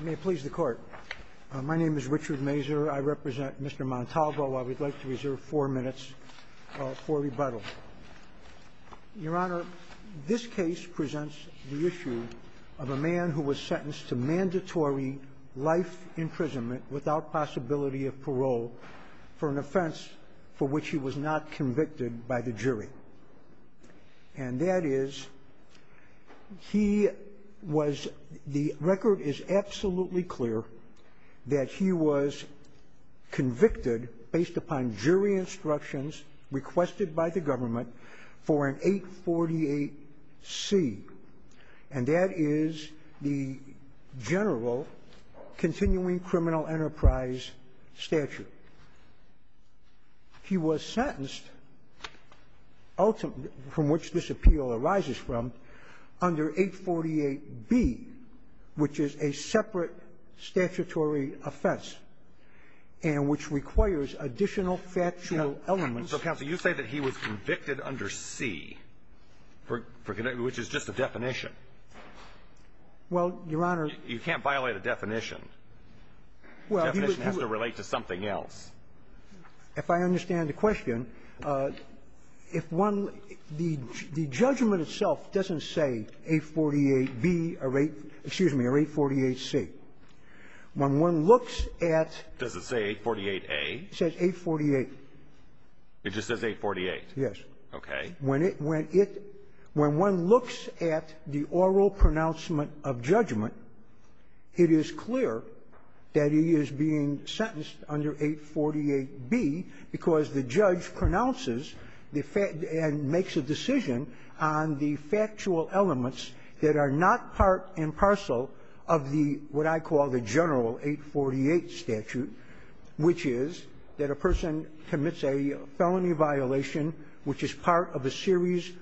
May it please the court. My name is Richard Mazur. I represent Mr. Montalvo. I would like to reserve four minutes for rebuttal. Your Honor, this case presents the issue of a man who was sentenced to mandatory life imprisonment without possibility of parole for an offense for which he was not convicted by the jury. And that is he was the record is absolutely clear that he was convicted based upon jury instructions requested by the government for an 848C. And that is the general continuing criminal enterprise statute. He was sentenced ultimately from which this appeal arises from under 848B, which is a separate statutory offense and which requires additional factual elements. So, counsel, you say that he was convicted under C, which is just a definition. Well, Your Honor. You can't violate a definition. The definition has to relate to something else. If I understand the question, if one the judgment itself doesn't say 848B or 848C. When one looks at Does it say 848A? It says 848. It just says 848? Yes. Okay. When it, when it, when one looks at the oral pronouncement of judgment, it is clear that he is being sentenced under 848B because the judge pronounces the fact and makes a decision on the factual elements that are not part and parcel of the, what I call the general 848 statute, which is that a person commits a felony violation which is part of a series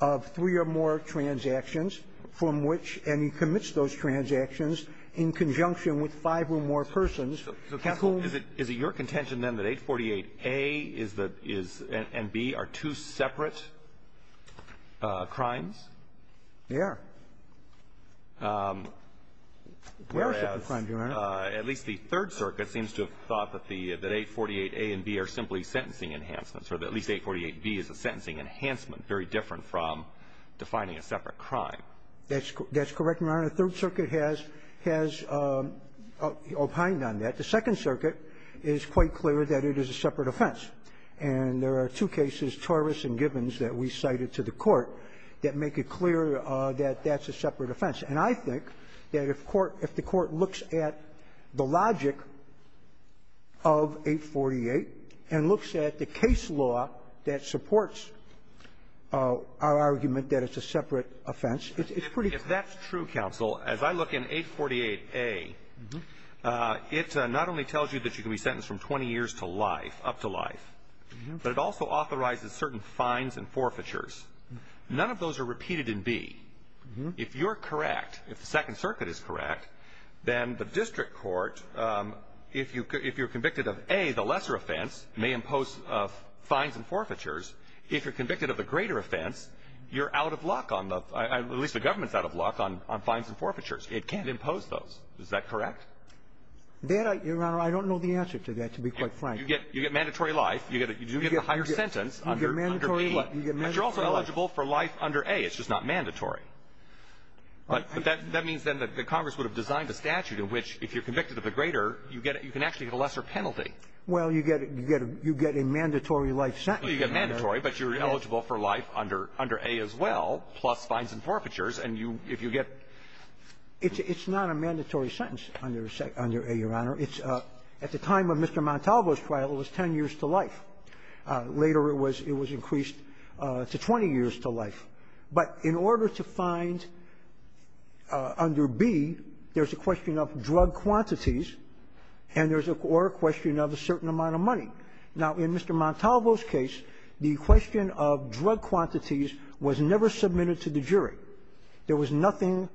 of three or more transactions from which, and he commits those transactions in conjunction with five or more persons. Is it your contention then that 848A is the, is, and B are two separate crimes? They are. They are separate crimes, Your Honor. Whereas, at least the Third Circuit seems to have thought that the, that 848A and at least 848B is a sentencing enhancement, very different from defining a separate crime. That's correct, Your Honor. The Third Circuit has, has opined on that. The Second Circuit is quite clear that it is a separate offense. And there are two cases, Charvis and Gibbons, that we cited to the Court that make it clear that that's a separate offense. And I think that if Court, if the Court looks at the logic of 848 and looks at the case law that supports our argument that it's a separate offense, it's pretty clear. If that's true, counsel, as I look in 848A, it not only tells you that you can be sentenced from 20 years to life, up to life, but it also authorizes certain fines and forfeitures. None of those are repeated in B. If you're correct, if the Second Circuit is correct, then the district court, if you are convicted of A, the lesser offense, may impose fines and forfeitures. If you're convicted of a greater offense, you're out of luck on the, at least the government's out of luck on fines and forfeitures. It can't impose those. Is that correct? That, Your Honor, I don't know the answer to that, to be quite frank. You get mandatory life. You do get a higher sentence under B. But you're also eligible for life under A. It's just not mandatory. But that means then that Congress would have designed a statute in which if you're convicted of A, you get a lesser penalty. Well, you get a mandatory life sentence. You get mandatory, but you're eligible for life under A as well, plus fines and forfeitures. And you, if you get ---- It's not a mandatory sentence under A, Your Honor. It's, at the time of Mr. Montalvo's trial, it was 10 years to life. Later, it was increased to 20 years to life. But in order to find under B, there's a question of drug quantities, and there's a question of a certain amount of money. Now, in Mr. Montalvo's case, the question of drug quantities was never submitted to the jury. There was nothing,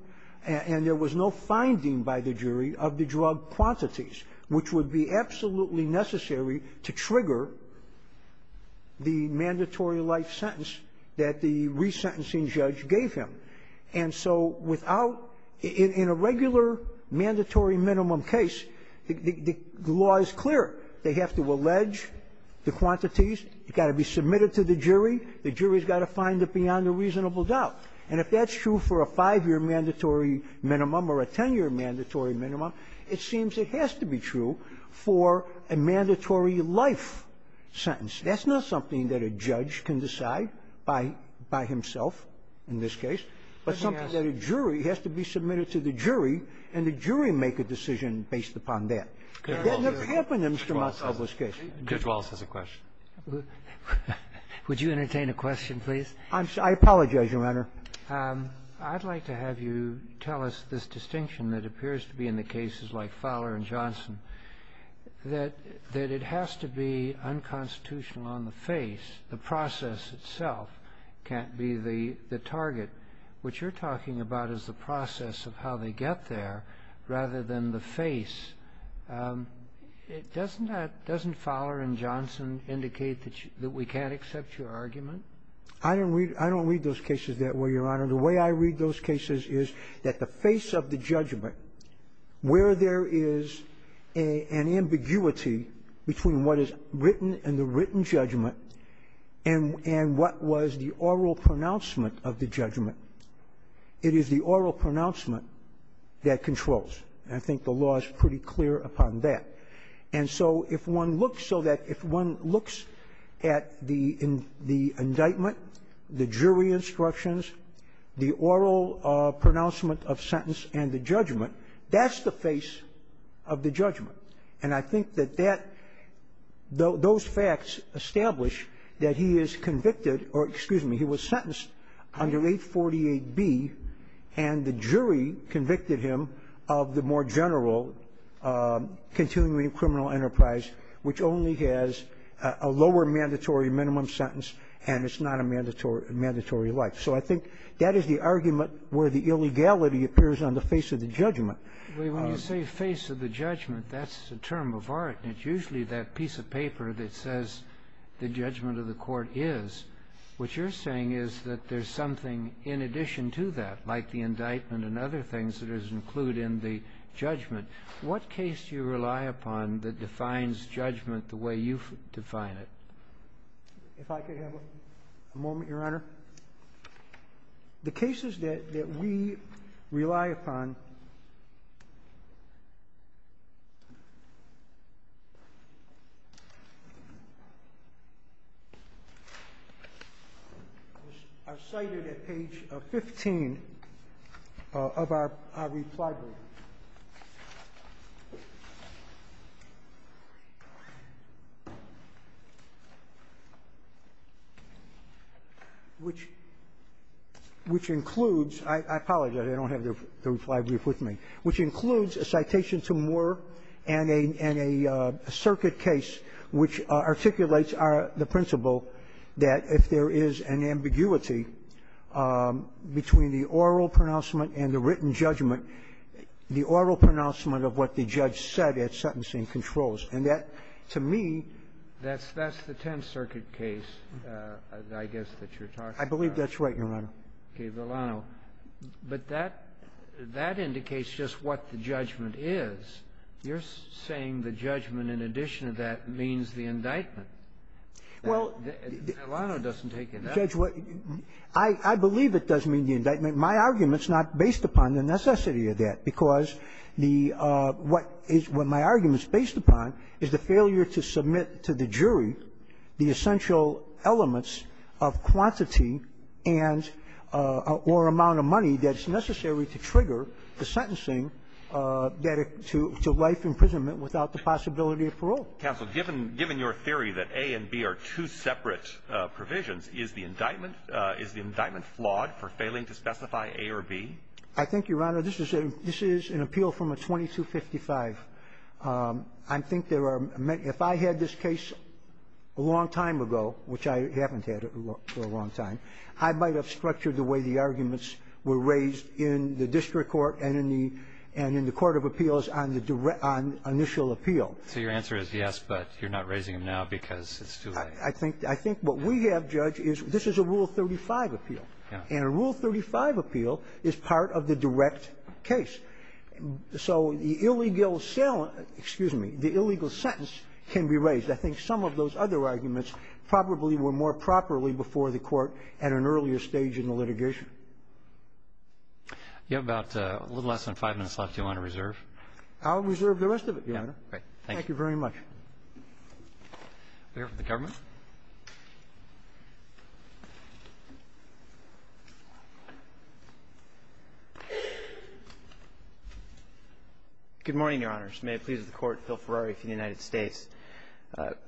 and there was no finding by the jury of the drug quantities, which would be absolutely necessary to trigger the mandatory life sentence that the resentencing judge gave him. And so without ---- in a regular mandatory minimum case, the law is clear. They have to allege the quantities. It's got to be submitted to the jury. The jury's got to find it beyond a reasonable doubt. And if that's true for a 5-year mandatory minimum or a 10-year mandatory minimum, it seems it has to be true for a mandatory life sentence. That's not something that a judge can decide by himself in this case, but something that a jury has to be submitted to the jury, and the jury make a decision based upon that. It never happened in Mr. Montalvo's case. Waxman. Roberts. Waxman. Roberts. Waxman. Waxman. Waxman. Roberts. Would you entertain a question, please? I'm sorry. I apologize, Your Honor. I'd like to have you tell us this distinction that appears to be in the cases like the Constitutional on the face, the process itself can't be the target. What you're talking about is the process of how they get there rather than the face. Doesn't Fowler and Johnson indicate that we can't accept your argument? I don't read those cases that way, Your Honor. The way I read those cases is that the face of the judgment, where there is an ambiguity between what is written in the written judgment and what was the oral pronouncement of the judgment, it is the oral pronouncement that controls. And I think the law is pretty clear upon that. And so if one looks so that if one looks at the indictment, the jury instructions, the oral pronouncement of sentence and the judgment, that's the face of the judgment. And I think that that those facts establish that he is convicted or, excuse me, he was sentenced under 848B, and the jury convicted him of the more general continuing criminal enterprise, which only has a lower mandatory minimum sentence, and it's not a mandatory life. So I think that is the argument where the illegality appears on the face of the judgment. When you say face of the judgment, that's a term of art. And it's usually that piece of paper that says the judgment of the court is. What you're saying is that there's something in addition to that, like the indictment and other things that is included in the judgment. What case do you rely upon that defines judgment the way you define it? If I could have a moment, Your Honor. The cases that we rely upon are cited at page 15 of our reply board. Which includes, I apologize, I don't have the reply brief with me, which includes a citation to Moore and a circuit case which articulates the principle that if there is an ambiguity between the oral pronouncement and the written judgment, the oral pronouncement of what the judge said at sentencing controls. And that, to me That's the Tenth Circuit case, I guess, that you're talking about. I believe that's right, Your Honor. Okay. But that indicates just what the judgment is. You're saying the judgment, in addition to that, means the indictment. Well, Judge, I believe it doesn't mean the indictment. My argument is not based upon the necessity of that, because the what is my argument is based upon is the failure to submit to the jury the essential elements of quantity and or amount of money that's necessary to trigger the sentencing that to life imprisonment without the possibility of parole. Counsel, given your theory that A and B are two separate provisions, is the indictment flawed for failing to specify A or B? I think, Your Honor, this is an appeal from a 2255. I think there are many If I had this case a long time ago, which I haven't had for a long time, I might have structured the way the arguments were raised in the district court and in the court of appeals on the initial appeal. So your answer is yes, but you're not raising them now because it's too late. I think what we have, Judge, is this is a Rule 35 appeal. And a Rule 35 appeal is part of the direct case. So the illegal excuse me, the illegal sentence can be raised. I think some of those other arguments probably were more properly before the court at an earlier stage in the litigation. You have about a little less than five minutes left, Your Honor, to reserve. I'll reserve the rest of it, Your Honor. Thank you very much. The government? Good morning, Your Honors. May it please the Court, Phil Ferrari for the United States.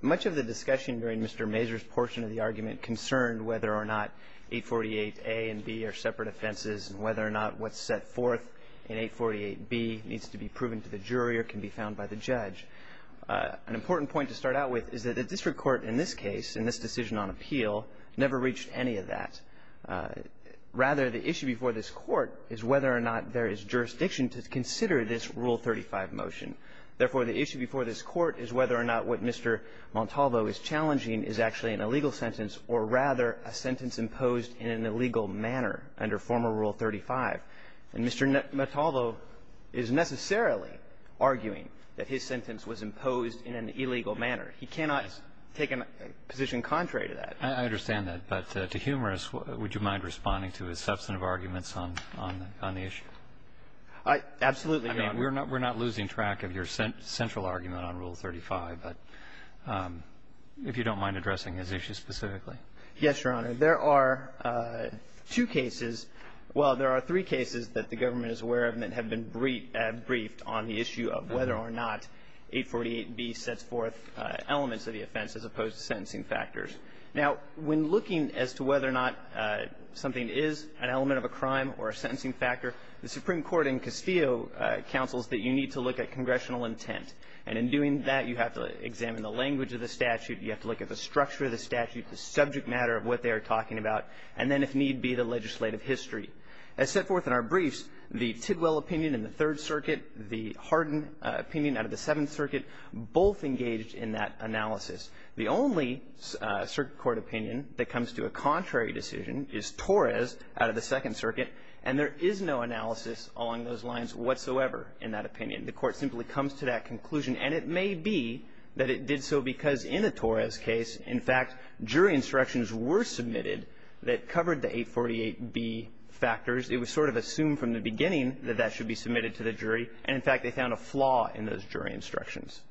Much of the discussion during Mr. Mazur's portion of the argument concerned whether or not 848A and B are separate offenses and whether or not what's set forth in 848B needs to be proven to the jury or can be found by the judge. An important point to start out with is that the district court in this case, in this decision on appeal, never reached any of that. Rather, the issue before this Court is whether or not there is jurisdiction to consider this Rule 35 motion. Therefore, the issue before this Court is whether or not what Mr. Montalvo is challenging is actually an illegal sentence or rather a sentence imposed in an illegal manner under former Rule 35. And Mr. Montalvo is necessarily arguing that his sentence was imposed in an illegal manner. He cannot take a position contrary to that. I understand that. But to Humerus, would you mind responding to his substantive arguments on the issue? Absolutely. I mean, we're not losing track of your central argument on Rule 35, but if you don't mind addressing his issue specifically. Yes, Your Honor. There are two cases, well, there are three cases that the government is aware of and that have been briefed on the issue of whether or not 848B sets forth elements of the offense as opposed to sentencing factors. Now, when looking as to whether or not something is an element of a crime or a sentencing factor, the Supreme Court in Castillo counsels that you need to look at congressional intent. And in doing that, you have to examine the language of the statute, you have to look at the structure of the statute, the subject matter of what they are talking about, and then, if need be, the legislative history. As set forth in our briefs, the Tidwell opinion in the Third Circuit, the Hardin opinion out of the Seventh Circuit, both engaged in that analysis. The only circuit court opinion that comes to a contrary decision is Torres out of the Second Circuit, and there is no analysis along those lines whatsoever in that opinion. The Court simply comes to that conclusion. And it may be that it did so because in the Torres case, in fact, jury instructions were submitted that covered the 848B factors. It was sort of assumed from the beginning that that should be submitted to the jury. And, in fact, they found a flaw in those jury instructions.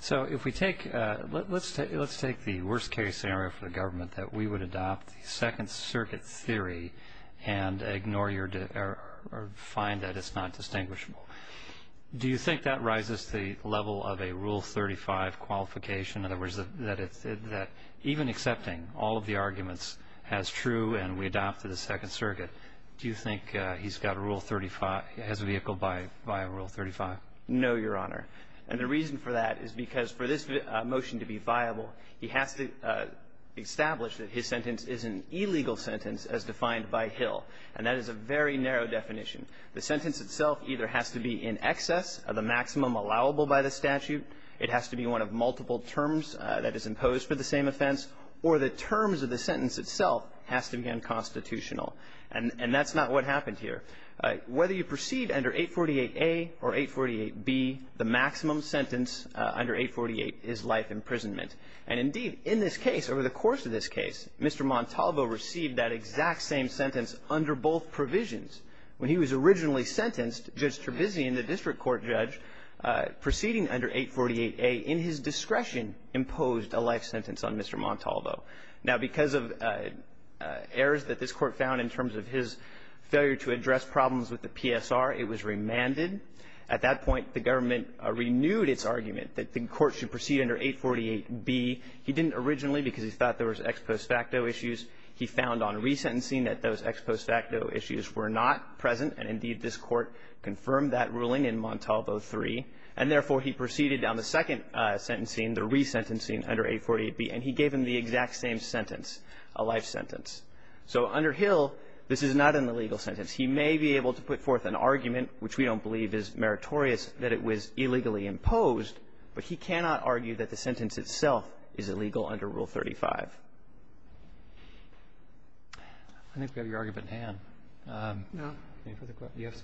So if we take the worst-case scenario for the government that we would adopt the Second Circuit theory and ignore or find that it's not distinguishable, do you think that rises the level of a Rule 35 qualification? In other words, that even accepting all of the arguments as true and we adopt the Second Circuit, do you think he's got a Rule 35, has a vehicle by Rule 35? No, Your Honor. And the reason for that is because for this motion to be viable, he has to establish that his sentence is an illegal sentence as defined by Hill. And that is a very narrow definition. The sentence itself either has to be in excess of the maximum allowable by the statute, it has to be one of multiple terms that is imposed for the same offense, or the terms of the sentence itself has to be unconstitutional. And that's not what happened here. Whether you proceed under 848A or 848B, the maximum sentence under 848 is life imprisonment. And, indeed, in this case, over the course of this case, Mr. Montalvo received that exact same sentence under both provisions. When he was originally sentenced, Judge Trebizion, the district court judge, proceeding under 848A, in his discretion, imposed a life sentence on Mr. Montalvo. Now, because of errors that this Court found in terms of his failure to address problems with the PSR, it was remanded. At that point, the government renewed its argument that the Court should proceed under 848B. He didn't originally because he thought there was ex post facto issues. He found on resentencing that those ex post facto issues were not present, and, indeed, this Court confirmed that ruling in Montalvo III. And, therefore, he proceeded on the second sentencing, the resentencing under 848B, and he gave him the exact same sentence, a life sentence. So under Hill, this is not an illegal sentence. He may be able to put forth an argument, which we don't believe is meritorious, that it was illegally imposed, but he cannot argue that the sentence itself is illegal under Rule 35. I think we have your argument at hand. No. Any further questions?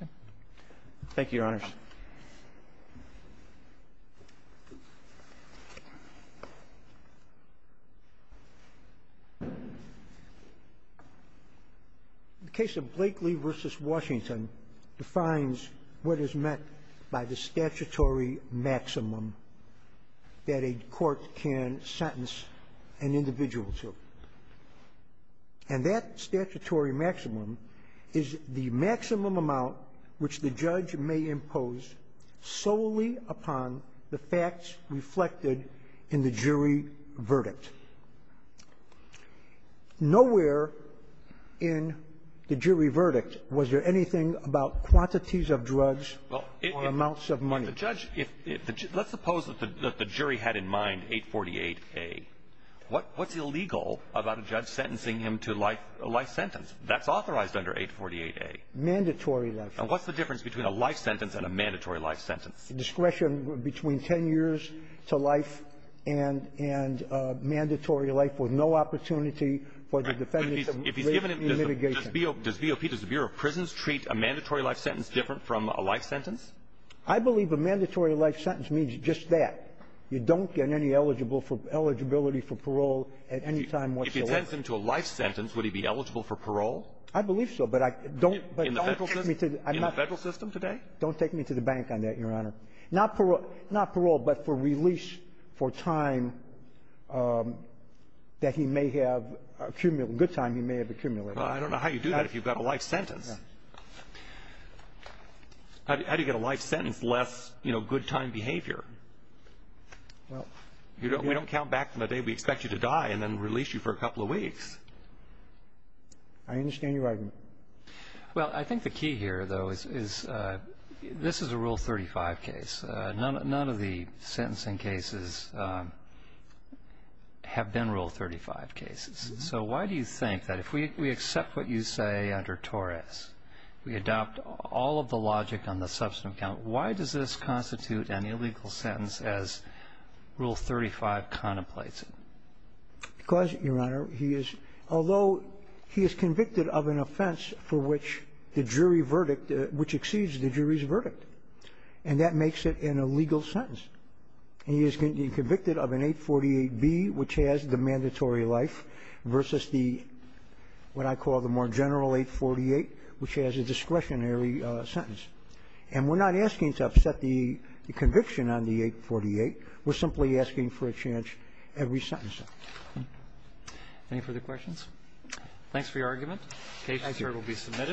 Okay. Thank you, Your Honors. The case of Blakely v. Washington defines what is meant by the statutory maximum that a court can sentence an individual to. And that statutory maximum is the maximum amount which the judge may impose solely upon the facts reflected in the jury verdict. Nowhere in the jury verdict was there anything about quantities of drugs or amounts of money. Let's suppose that the jury had in mind 848A. What's illegal about a judge sentencing him to a life sentence? That's authorized under 848A. Mandatory life sentence. And what's the difference between a life sentence and a mandatory life sentence? Discretion between 10 years to life and mandatory life with no opportunity for the defendant to live in litigation. Does the Bureau of Prisons treat a mandatory life sentence different from a life sentence? I believe a mandatory life sentence means just that. You don't get any eligibility for parole at any time whatsoever. If you sentence him to a life sentence, would he be eligible for parole? I believe so. In the federal system today? Don't take me to the bank on that, Your Honor. Not parole, but for release for time that he may have accumulated. Good time he may have accumulated. I don't know how you do that if you've got a life sentence. How do you get a life sentence less good time behavior? We don't count back from the day we expect you to die and then release you for a couple of weeks. I understand your argument. Well, I think the key here, though, is this is a Rule 35 case. None of the sentencing cases have been Rule 35 cases. So why do you think that if we accept what you say under Torres, we adopt all of the logic on the substantive count, why does this constitute an illegal sentence as Rule 35 contemplates it? Because, Your Honor, he is, although he is convicted of an offense for which the jury verdict, which exceeds the jury's verdict, and that makes it an illegal sentence. He is convicted of an 848B, which has the mandatory life, versus the, what I call the more general 848, which has a discretionary sentence. And we're not asking to upset the conviction on the 848. We're simply asking for a chance every sentencing. Any further questions? The case here will be submitted.